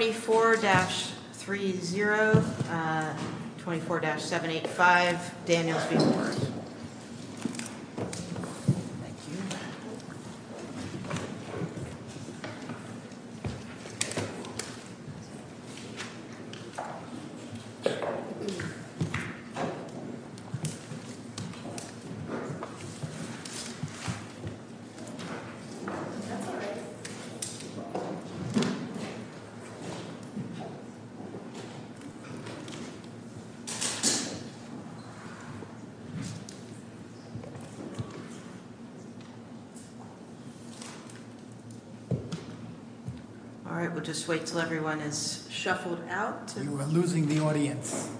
24-30, 24-785 Daniel B. Ward. All right, we'll just wait until everyone is shuffled out. We're losing the audience.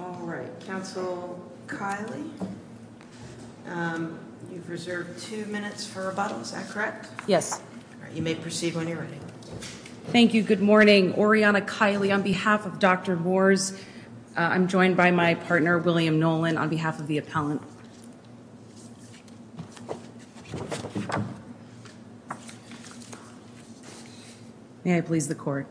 All right, Councilor Kiley, you've reserved two minutes for rebuttal, is that correct? Yes. All right, you may proceed when you're ready. Thank you. Good morning. Good morning. Oriana Kiley on behalf of Dr. Wars. I'm joined by my partner, William Nolan, on behalf of the appellant. May I please the court?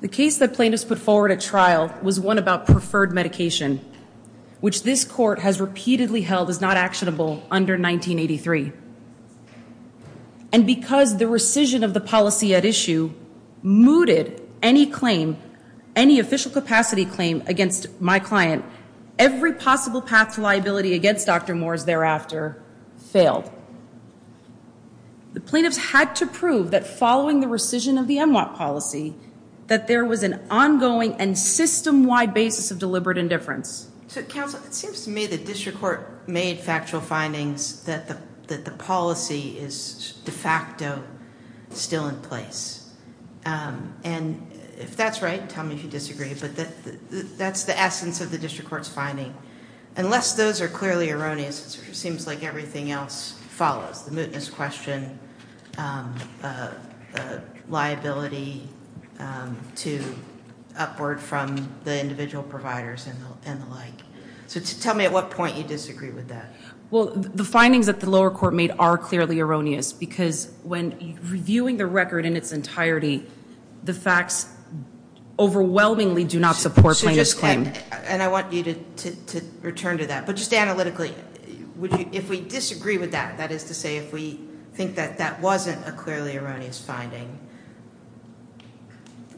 The case that plaintiffs put forward at trial was one about preferred medication, which this court has repeatedly held is not actionable under 1983. And because the rescission of the policy at issue mooted any claim, any official capacity claim against my client, every possible path to liability against Dr. Wars thereafter failed. The plaintiffs had to prove that following the rescission of the MWOP policy, that there was an ongoing and system-wide basis of deliberate indifference. So, Councilor, it seems to me the district court made factual findings that the policy is de facto still in place. And if that's right, tell me if you disagree, but that's the essence of the district court's finding. Unless those are clearly erroneous, it seems like everything else follows. The mootness question, liability to upward from the individual providers and the like. So tell me at what point you disagree with that. Well, the findings that the lower court made are clearly erroneous, because when reviewing the record in its entirety, the facts overwhelmingly do not support plaintiff's claim. And I want you to return to that. But just analytically, if we disagree with that, that is to say if we think that that wasn't a clearly erroneous finding,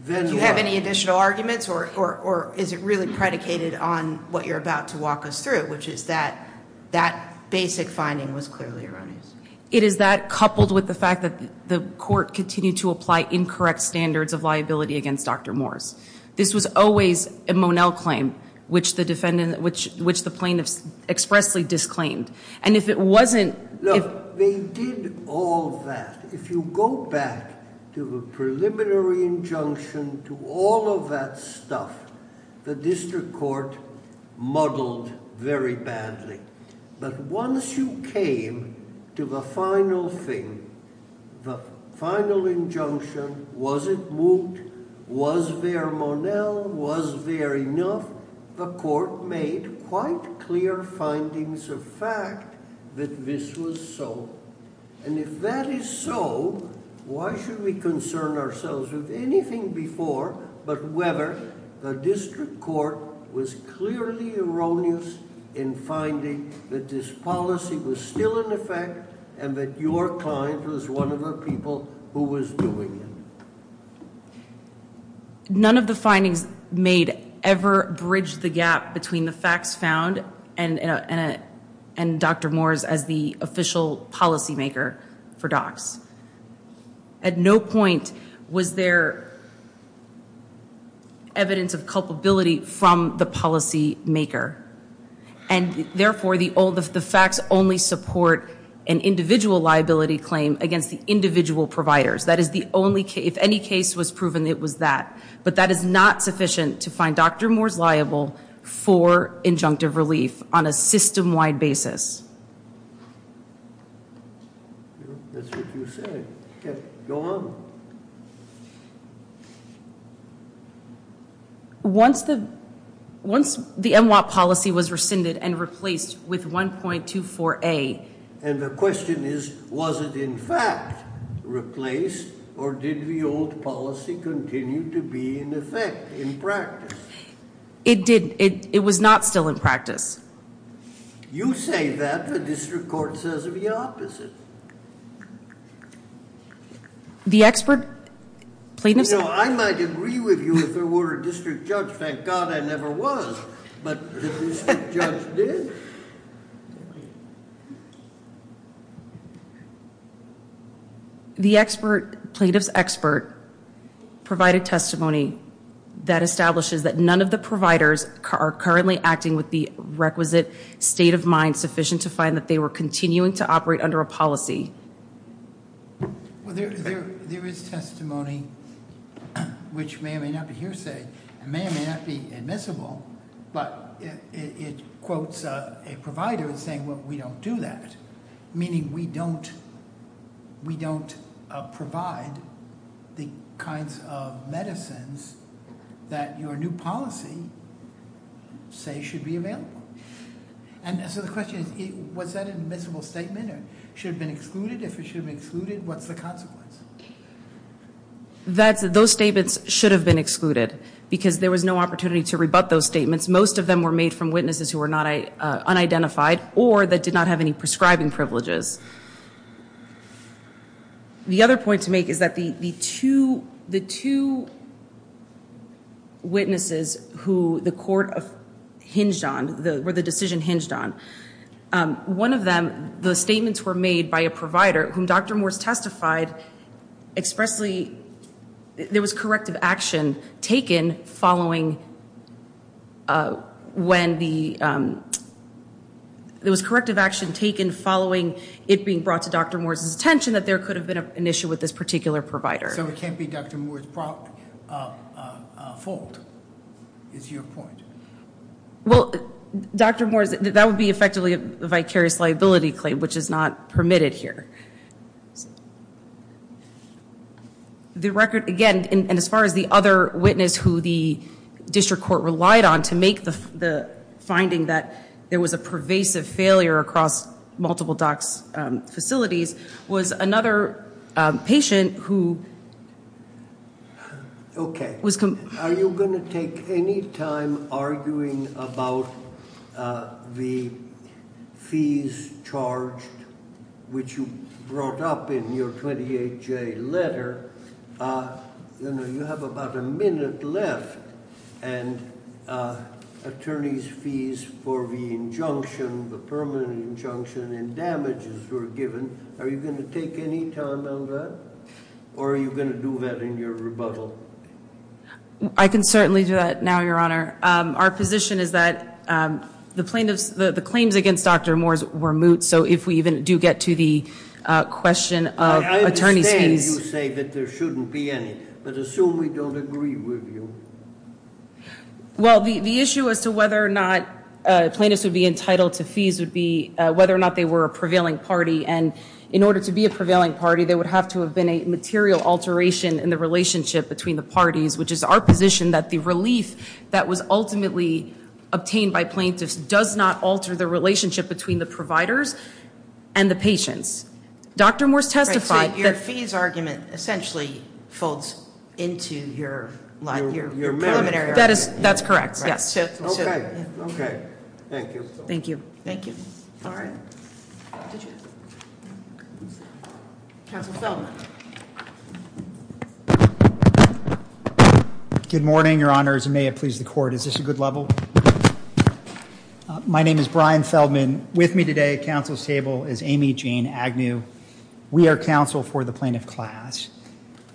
do you have any additional arguments or is it really predicated on what you're about to walk us through, which is that that basic finding was clearly erroneous? It is that, coupled with the fact that the court continued to apply incorrect standards of liability against Dr. Morris. This was always a Monell claim, which the plaintiff expressly disclaimed. And if it wasn't- Look, they did all that. If you go back to the preliminary injunction, to all of that stuff, the district court muddled very badly. But once you came to the final thing, the final injunction, was it moot? Was there Monell? Was there enough? The court made quite clear findings of fact that this was so. And if that is so, why should we concern ourselves with anything before, but whether the district court was clearly erroneous in finding that this policy was still in effect and that your client was one of the people who was doing it? None of the findings made ever bridged the gap between the facts found and Dr. Morris as the official policymaker for DOCS. At no point was there evidence of culpability from the policymaker. And therefore, the facts only support an individual liability claim against the individual providers. That is the only case. If any case was proven, it was that. But that is not sufficient to find Dr. Morris liable for injunctive relief on a system-wide basis. That's what you said. Go on. Once the MWOP policy was rescinded and replaced with 1.24a- and the question is, was it in fact replaced or did the old policy continue to be in effect, in practice? It did. It was not still in practice. You say that. The district court says the opposite. The expert plaintiff said I might agree with you if there were a district judge. Thank God there never was, but the district judge did. The expert plaintiff's expert provided testimony that establishes that none of the providers are currently acting with the requisite state of mind sufficient to find that they were continuing to operate under a policy. There is testimony which may or may not be hearsay and may or may not be admissible, but it quotes a provider as saying, well, we don't do that, meaning we don't provide the kinds of medicines that your new policy say should be available. So the question is, was that an admissible statement or should it have been excluded? If it should have been excluded, what's the consequence? Those statements should have been excluded because there was no opportunity to rebut those statements. Most of them were made from witnesses who were unidentified or that did not have any prescribing privileges. The other point to make is that the two witnesses who the court hinged on, were the decision hinged on, one of them, the statements were made by a provider whom Dr. Morris's attention that there could have been an issue with this particular provider. So it can't be Dr. Morris's fault, is your point? Well, Dr. Morris, that would be effectively a vicarious liability claim, which is not permitted here. The record, again, and as far as the other witness who the district court relied on to make the finding that there was a pervasive failure across multiple docs facilities, was another patient who was- Are you going to take any time arguing about the fees charged, which you brought up in your 28J letter? You have about a minute left, and attorney's fees for the injunction, the permanent injunction, and damages were given. Are you going to take any time on that? Or are you going to do that in your rebuttal? I can certainly do that now, Your Honor. Our position is that the claims against Dr. Morris were moot, so if we even do get to the question of attorney's fees- There shouldn't be any, but assume we don't agree with you. Well, the issue as to whether or not plaintiffs would be entitled to fees would be whether or not they were a prevailing party. And in order to be a prevailing party, there would have to have been a material alteration in the relationship between the parties, which is our position that the relief that was ultimately obtained by plaintiffs does not alter the relationship between the providers and the patients. Dr. Morris testified that- Right, so your fees argument essentially folds into your preliminary argument. That's correct, yes. Okay, okay. Thank you. Thank you. Thank you. All right. Counsel Feldman. Good morning, Your Honors, and may it please the Court, is this a good level? My name is Brian Feldman. With me today at counsel's table is Amy Jane Agnew. We are counsel for the plaintiff class.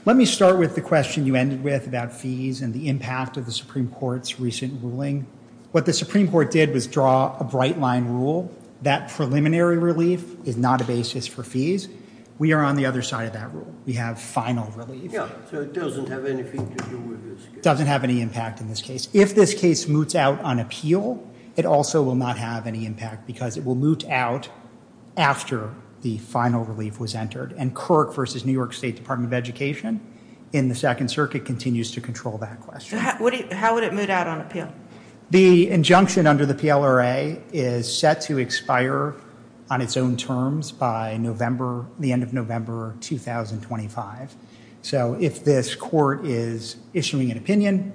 Let me start with the question you ended with about fees and the impact of the Supreme Court's recent ruling. What the Supreme Court did was draw a bright-line rule that preliminary relief is not a basis for fees. We are on the other side of that rule. We have final relief. Yeah, so it doesn't have anything to do with this case. It doesn't have any impact in this case. If this case moots out on appeal, it also will not have any impact because it will moot out after the final relief was entered. And Kirk v. New York State Department of Education in the Second Circuit continues to control that question. How would it moot out on appeal? The injunction under the PLRA is set to expire on its own terms by the end of November 2025. So if this court is issuing an opinion,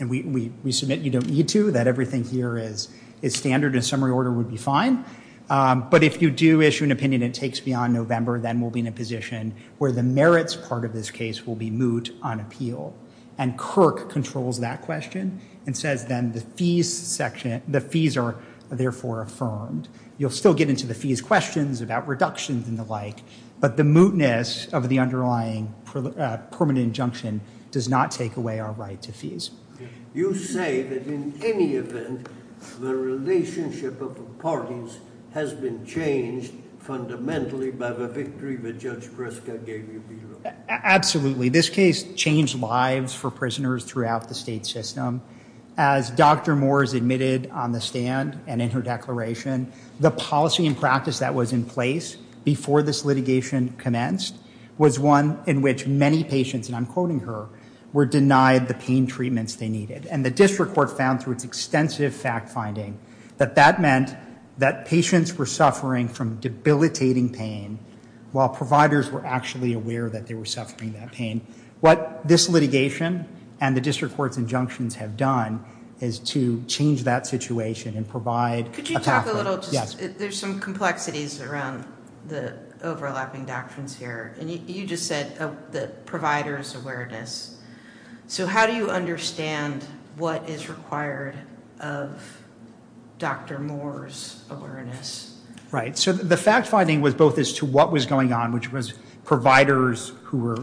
and we submit you don't need to, that everything here is standard and summary order would be fine. But if you do issue an opinion and it takes beyond November, then we'll be in a position where the merits part of this case will be moot on appeal. And Kirk controls that question and says then the fees are therefore affirmed. You'll still get into the fees questions about reductions and the like. But the mootness of the underlying permanent injunction does not take away our right to fees. You say that in any event, the relationship of the parties has been changed fundamentally by the victory that Judge Breska gave you below. Absolutely. This case changed lives for prisoners throughout the state system. As Dr. Moores admitted on the stand and in her declaration, the policy and practice that was in place before this litigation commenced was one in which many patients, and I'm quoting her, were denied the pain treatments they needed. And the district court found through its extensive fact finding that that meant that patients were suffering from debilitating pain while providers were actually aware that they were suffering that pain. What this litigation and the district court's injunctions have done is to change that situation and provide a pathway. Could you talk a little, there's some complexities around the overlapping doctrines here. And you just said the provider's awareness. So how do you understand what is required of Dr. Moore's awareness? So the fact finding was both as to what was going on, which was providers who were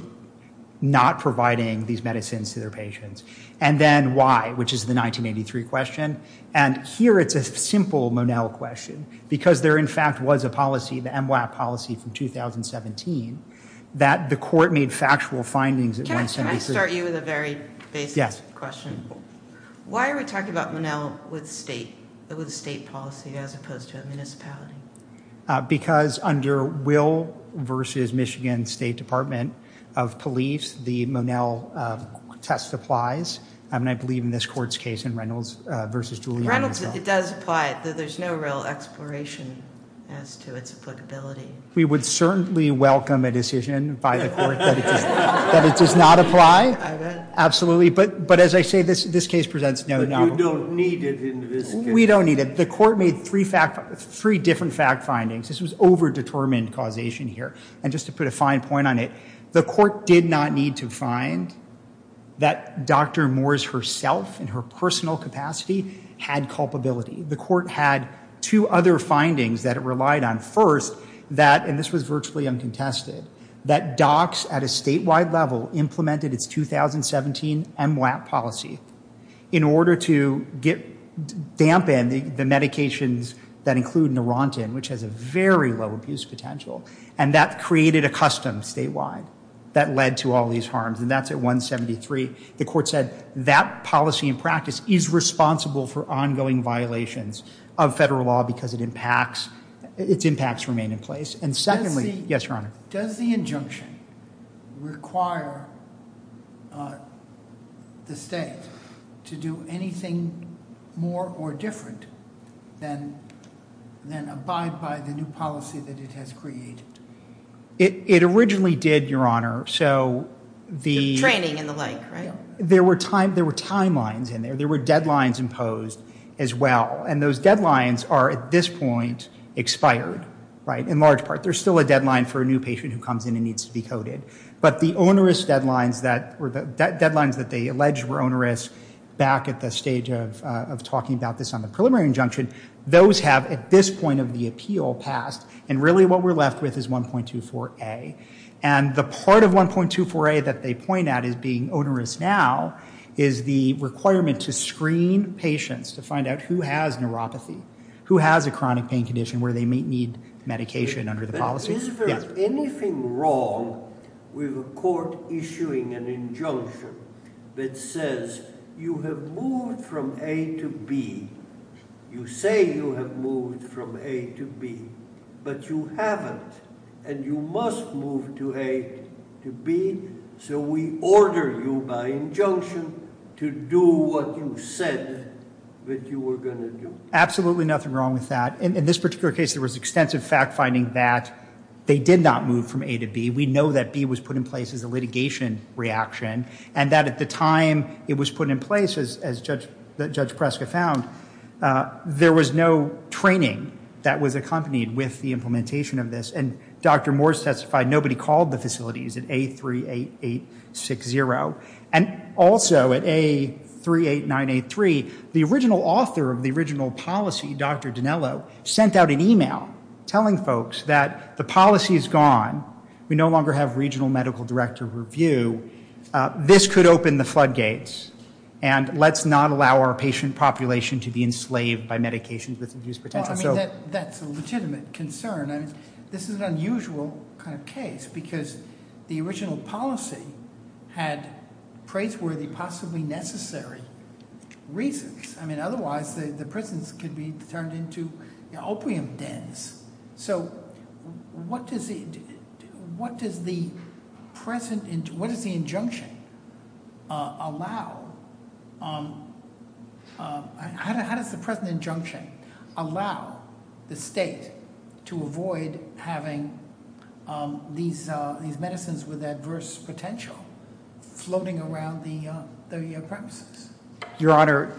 not providing these medicines to their patients, and then why, which is the 1983 question. And here it's a simple Monell question, because there in fact was a policy, the MWAP policy from 2017, that the court made factual findings. Can I start you with a very basic question? Why are we talking about Monell with state policy as opposed to a municipality? Because under Will v. Michigan State Department of Police, the Monell test applies. And I believe in this court's case in Reynolds v. Giuliani as well. Reynolds, it does apply. There's no real exploration as to its applicability. We would certainly welcome a decision by the court that it does not apply. I would. Absolutely. But as I say, this case presents no Monell. But you don't need it in this case. We don't need it. The court made three different fact findings. This was over-determined causation here. And just to put a fine point on it, the court did not need to find that Dr. Moore's herself in her personal capacity had culpability. The court had two other findings that it relied on. And this was virtually uncontested. That DOCS at a statewide level implemented its 2017 MWAP policy in order to dampen the medications that include Neurontin, which has a very low abuse potential. And that created a custom statewide that led to all these harms. And that's at 173. The court said that policy in practice is responsible for ongoing violations of federal law because its impacts remain in place. And secondly, yes, Your Honor. Does the injunction require the state to do anything more or different than abide by the new policy that it has created? It originally did, Your Honor. Training and the like, right? There were timelines in there. There were deadlines imposed as well. And those deadlines are at this point expired, right, in large part. There's still a deadline for a new patient who comes in and needs to be coded. But the onerous deadlines that they alleged were onerous back at the stage of talking about this on the preliminary injunction, those have at this point of the appeal passed. And really what we're left with is 1.24a. And the part of 1.24a that they point at as being onerous now is the requirement to screen patients to find out who has neuropathy, who has a chronic pain condition where they may need medication under the policy. Is there anything wrong with a court issuing an injunction that says you have moved from a to b? You say you have moved from a to b, but you haven't. And you must move to a to b, so we order you by injunction to do what you said that you were going to do. Absolutely nothing wrong with that. In this particular case, there was extensive fact-finding that they did not move from a to b. We know that b was put in place as a litigation reaction and that at the time it was put in place, as Judge Preska found, there was no training that was accompanied with the implementation of this. And Dr. Moore testified nobody called the facilities at A38860. And also at A38983, the original author of the original policy, Dr. Dinello, sent out an e-mail telling folks that the policy is gone. We no longer have regional medical director review. This could open the floodgates, and let's not allow our patient population to be enslaved by medications with abuse potential. Well, I mean, that's a legitimate concern. I mean, this is an unusual kind of case because the original policy had praiseworthy, possibly necessary reasons. I mean, otherwise the prisons could be turned into opium dens. So what does the present, what does the injunction allow? How does the present injunction allow the state to avoid having these medicines with adverse potential floating around the premises? Your Honor,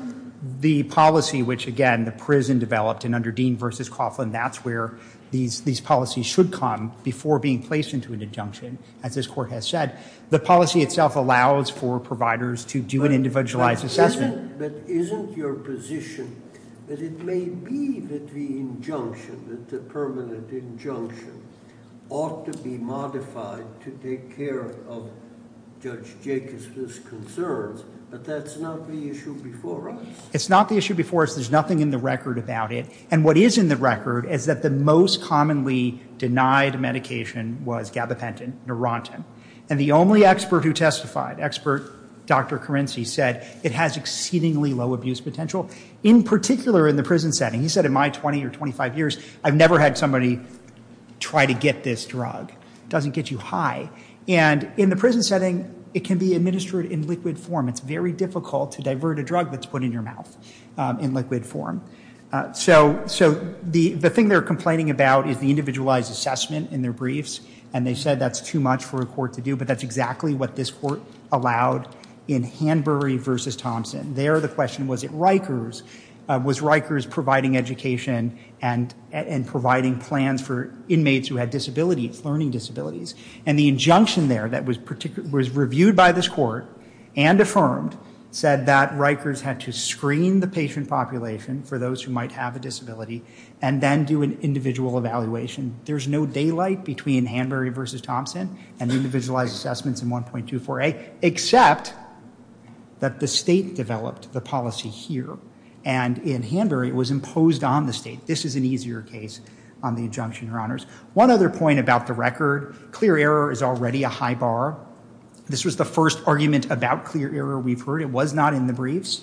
the policy which, again, the prison developed, and under Dean v. Coughlin, that's where these policies should come before being placed into an injunction, as this court has said. The policy itself allows for providers to do an individualized assessment. But isn't your position that it may be that the injunction, that the permanent injunction, ought to be modified to take care of Judge Jacobson's concerns? But that's not the issue before us. It's not the issue before us. There's nothing in the record about it. And what is in the record is that the most commonly denied medication was gabapentin, Neurontin. And the only expert who testified, expert Dr. Carinci, said it has exceedingly low abuse potential, in particular in the prison setting. He said in my 20 or 25 years, I've never had somebody try to get this drug. It doesn't get you high. And in the prison setting, it can be administered in liquid form. It's very difficult to divert a drug that's put in your mouth in liquid form. So the thing they're complaining about is the individualized assessment in their briefs. And they said that's too much for a court to do. But that's exactly what this court allowed in Hanbury v. Thompson. There, the question was at Rikers, was Rikers providing education and providing plans for inmates who had disabilities, learning disabilities? And the injunction there that was reviewed by this court and affirmed said that Rikers had to screen the patient population for those who might have a disability and then do an individual evaluation. There's no daylight between Hanbury v. Thompson and individualized assessments in 1.24a, except that the state developed the policy here. And in Hanbury, it was imposed on the state. This is an easier case on the injunction, Your Honors. One other point about the record, clear error is already a high bar. This was the first argument about clear error we've heard. It was not in the briefs.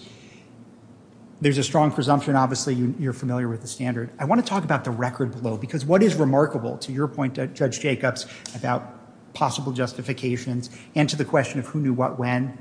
There's a strong presumption, obviously, you're familiar with the standard. I want to talk about the record below. Because what is remarkable, to your point, Judge Jacobs, about possible justifications and to the question of who knew what when,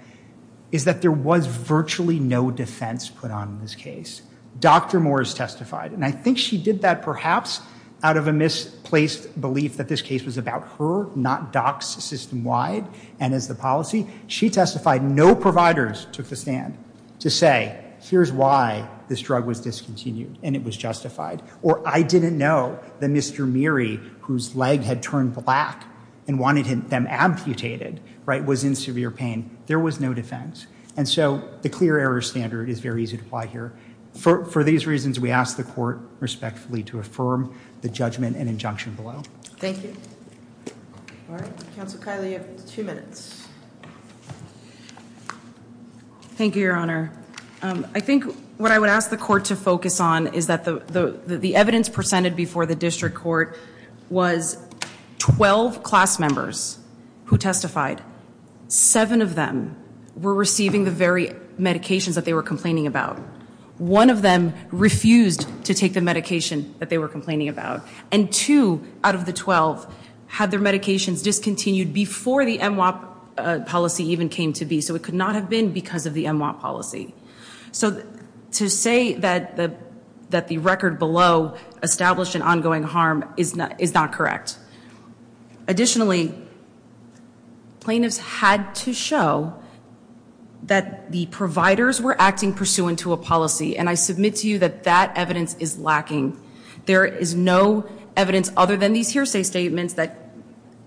is that there was virtually no defense put on this case. Dr. Moores testified. And I think she did that perhaps out of a misplaced belief that this case was about her, not docs system-wide and as the policy. She testified. No providers took the stand to say, here's why this drug was discontinued. And it was justified. Or I didn't know that Mr. Meary, whose leg had turned black and wanted them amputated, was in severe pain. There was no defense. And so the clear error standard is very easy to apply here. For these reasons, we ask the court respectfully to affirm the judgment and injunction below. Thank you. All right. Counsel Kiley, you have two minutes. Thank you, Your Honor. I think what I would ask the court to focus on is that the evidence presented before the district court was 12 class members who testified. Seven of them were receiving the very medications that they were complaining about. One of them refused to take the medication that they were complaining about. And two out of the 12 had their medications discontinued before the MWOP policy even came to be. So it could not have been because of the MWOP policy. So to say that the record below established an ongoing harm is not correct. Additionally, plaintiffs had to show that the providers were acting pursuant to a policy. And I submit to you that that evidence is lacking. There is no evidence other than these hearsay statements that,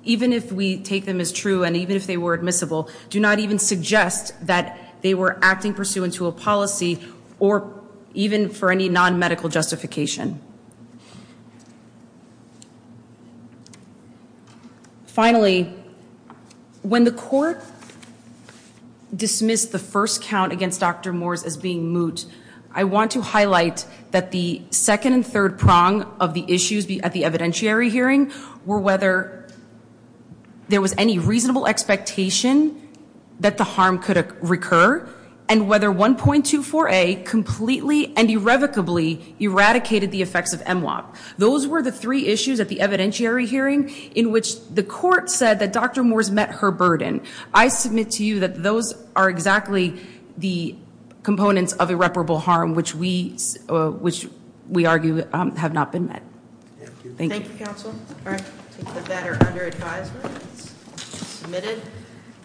even if we take them as true and even if they were admissible, do not even suggest that they were acting pursuant to a policy or even for any non-medical justification. Finally, when the court dismissed the first count against Dr. Moores as being moot, I want to highlight that the second and third prong of the issues at the evidentiary hearing were whether there was any reasonable expectation that the harm could recur and whether 1.24a completely and irrevocably eradicated the effects of MWOP. Those were the three issues at the evidentiary hearing in which the court said that Dr. Moores met her burden. I submit to you that those are exactly the components of irreparable harm which we argue have not been met. Thank you. Thank you, counsel. All right. Take the batter under advisement. It's submitted.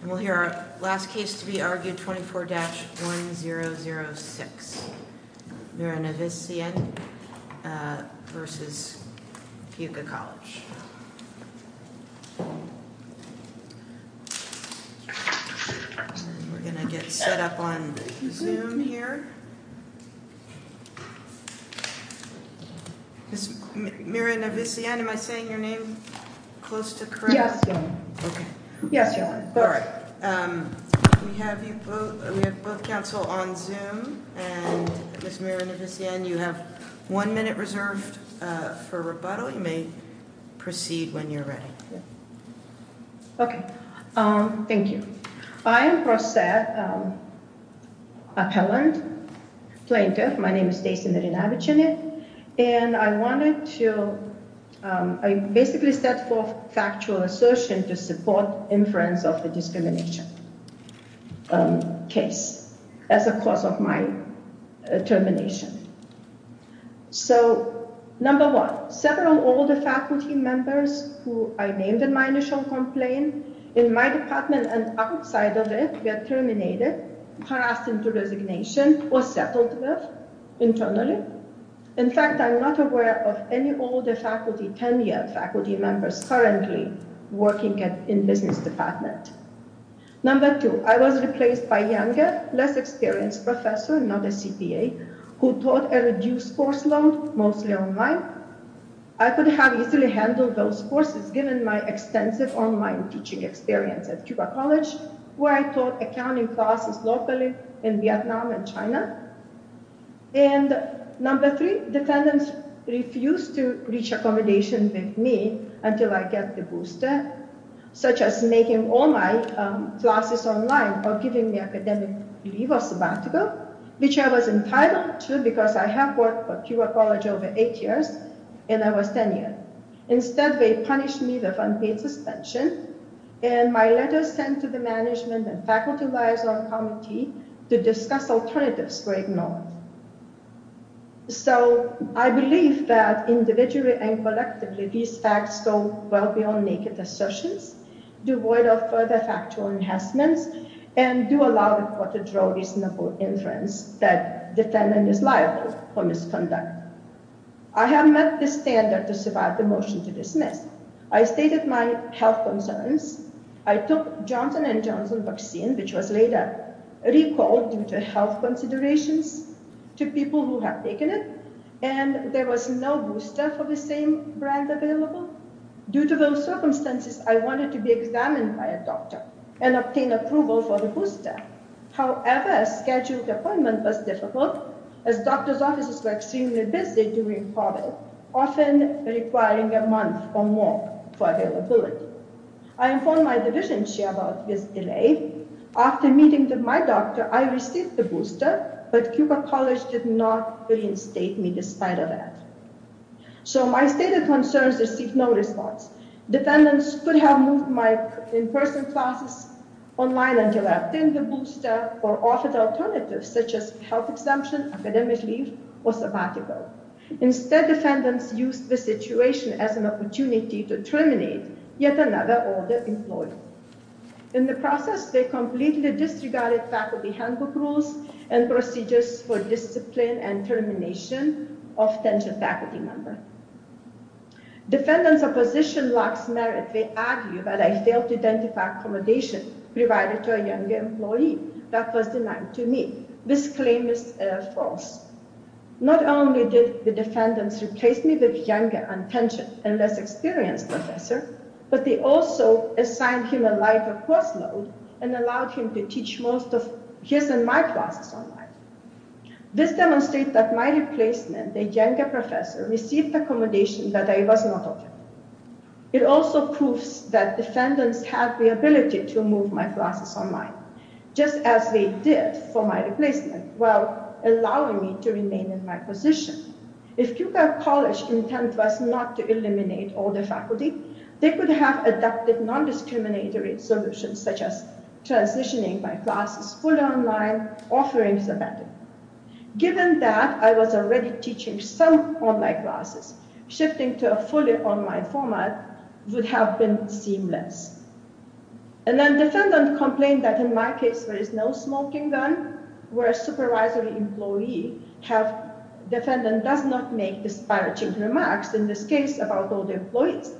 We'll hear our last case to be argued, 24-1006. Mirna Visian versus Fuqua College. We're going to get set up on Zoom here. Ms. Mirna Visian, am I saying your name close to correct? Yes. Yes, you are. All right. We have both counsel on Zoom. And Ms. Mirna Visian, you have one minute reserved for rebuttal. You may proceed when you're ready. Okay. Thank you. I am a plaintiff. My name is Stacy Mirna Visian. And I wanted to – I basically set forth factual assertion to support inference of the discrimination case as a cause of my termination. So, number one, several older faculty members who I named in my initial complaint in my department and outside of it were terminated, passed into resignation, or settled with internally. In fact, I'm not aware of any older faculty, 10-year faculty members currently working in business department. Number two, I was replaced by younger, less experienced professor, not a CPA, who taught a reduced course load, mostly online. I could have easily handled those courses given my extensive online teaching experience at Fuqua College, where I taught accounting classes locally in Vietnam and China. And number three, defendants refused to reach accommodation with me until I get the booster, such as making all my classes online or giving me academic leave or sabbatical, which I was entitled to because I have worked for Fuqua College over eight years, and I was 10 years. Instead, they punished me with unpaid suspension, and my letters sent to the management and faculty liaison committee to discuss alternatives were ignored. So, I believe that individually and collectively, these facts go well beyond naked assertions, do void of further factual enhancements, and do allow the court to draw reasonable inference that defendant is liable for misconduct. I have met the standard to survive the motion to dismiss. I stated my health concerns. I took Johnson & Johnson vaccine, which was later recalled due to health considerations to people who have taken it, and there was no booster for the same brand available. Due to those circumstances, I wanted to be examined by a doctor and obtain approval for the booster. However, a scheduled appointment was difficult as doctor's offices were extremely busy during COVID, often requiring a month or more for availability. I informed my division chair about this delay. After meeting with my doctor, I received the booster, but Fuqua College did not reinstate me despite of that. So, my stated concerns received no response. Defendants could have moved my in-person classes online until I obtained the booster or offered alternatives such as health exemption, academic leave, or sabbatical. Instead, defendants used the situation as an opportunity to terminate yet another older employee. In the process, they completely disregarded faculty handbook rules and procedures for discipline and termination of tenured faculty members. Defendants' opposition lacks merit. They argue that I failed to identify accommodation provided to a younger employee that was denied to me. This claim is false. Not only did the defendants replace me with a younger, untensioned, and less experienced professor, but they also assigned him a lighter course load and allowed him to teach most of his and my classes online. This demonstrates that my replacement, a younger professor, received accommodation that I was not offered. It also proves that defendants have the ability to move my classes online, just as they did for my replacement, while allowing me to remain in my position. If Puget College's intent was not to eliminate older faculty, they could have adopted non-discriminatory solutions such as transitioning my classes fully online or free sabbatical. Given that I was already teaching some online classes, shifting to a fully online format would have been seamless. Defendants complain that in my case there is no smoking gun, where a supervisory employee does not make disparaging remarks, in this case about older employees.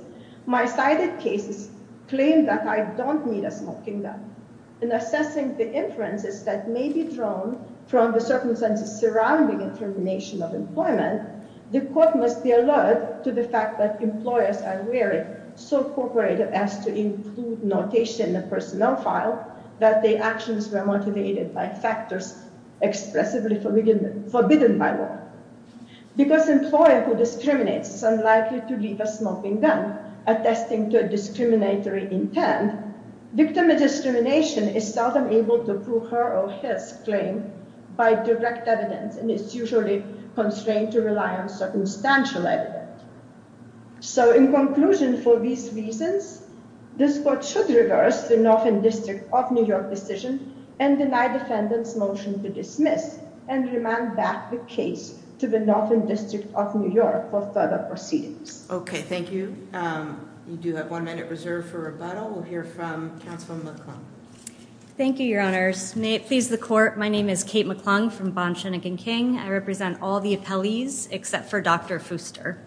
My cited cases claim that I don't need a smoking gun. In assessing the inferences that may be drawn from the circumstances surrounding intermination of employment, the court must be alert to the fact that employers are wary, so cooperative as to include notation in the personnel file, that their actions were motivated by factors expressively forbidden by law. Because an employer who discriminates is unlikely to leave a smoking gun, attesting to a discriminatory intent, victim of discrimination is seldom able to prove her or his claim by direct evidence and is usually constrained to rely on circumstantial evidence. So, in conclusion, for these reasons, this court should reverse the Northern District of New York decision and deny defendants' motion to dismiss and remand back the case to the Northern District of New York for further proceedings. Okay, thank you. You do have one minute reserved for rebuttal. We'll hear from Counselor McClung. Thank you, Your Honors. May it please the court, my name is Kate McClung from Bond, Schoenig and King. I represent all the appellees except for Dr. Fooster.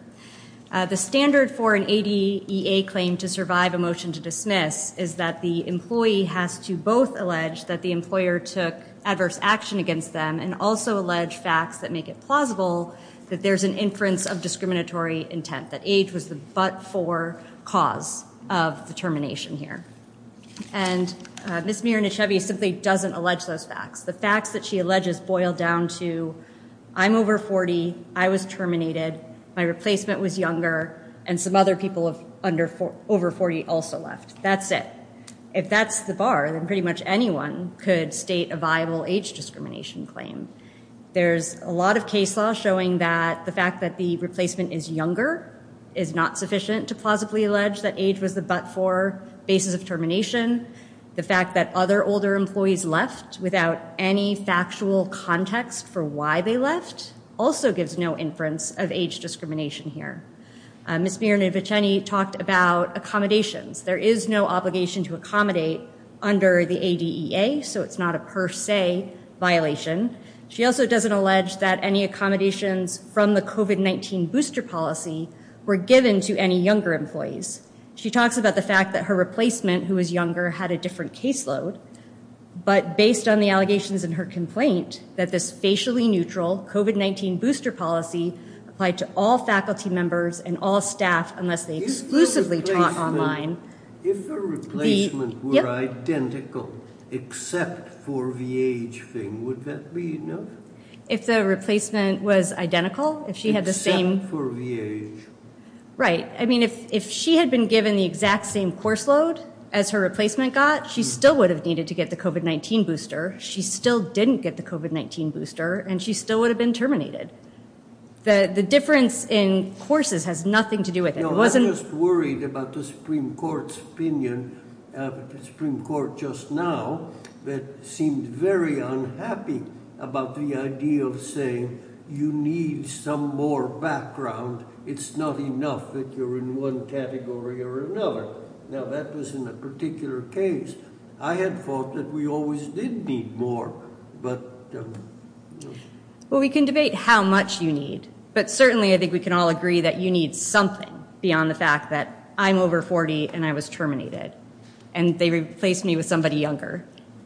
The standard for an ADEA claim to survive a motion to dismiss is that the employee has to both allege that the employer took adverse action against them and also allege facts that make it plausible that there's an inference of discriminatory intent, that age was the but-for cause of the termination here. And Ms. Mirnachevy simply doesn't allege those facts. The facts that she alleges boil down to, I'm over 40, I was terminated, my replacement was younger, and some other people over 40 also left. That's it. If that's the bar, then pretty much anyone could state a viable age discrimination claim. There's a lot of case law showing that the fact that the replacement is younger is not sufficient to plausibly allege that age was the but-for basis of termination. The fact that other older employees left without any factual context for why they left also gives no inference of age discrimination here. Ms. Mirnachevy talked about accommodations. There is no obligation to accommodate under the ADEA, so it's not a per se violation. She also doesn't allege that any accommodations from the COVID-19 booster policy were given to any younger employees. She talks about the fact that her replacement, who was younger, had a different caseload, but based on the allegations in her complaint, that this facially neutral COVID-19 booster policy applied to all faculty members and all staff unless they exclusively taught online. If the replacement were identical except for the age thing, would that be enough? If the replacement was identical, if she had the same... Except for the age. Right. I mean, if she had been given the exact same course load as her replacement got, she still would have needed to get the COVID-19 booster, she still didn't get the COVID-19 booster, and she still would have been terminated. The difference in courses has nothing to do with it. I was just worried about the Supreme Court's opinion, the Supreme Court just now, that seemed very unhappy about the idea of saying, you need some more background. It's not enough that you're in one category or another. Now, that was in a particular case. I had thought that we always did need more, but... Well, we can debate how much you need, but certainly I think we can all agree that you need something beyond the fact that I'm over 40 and I was terminated, and they replaced me with somebody younger.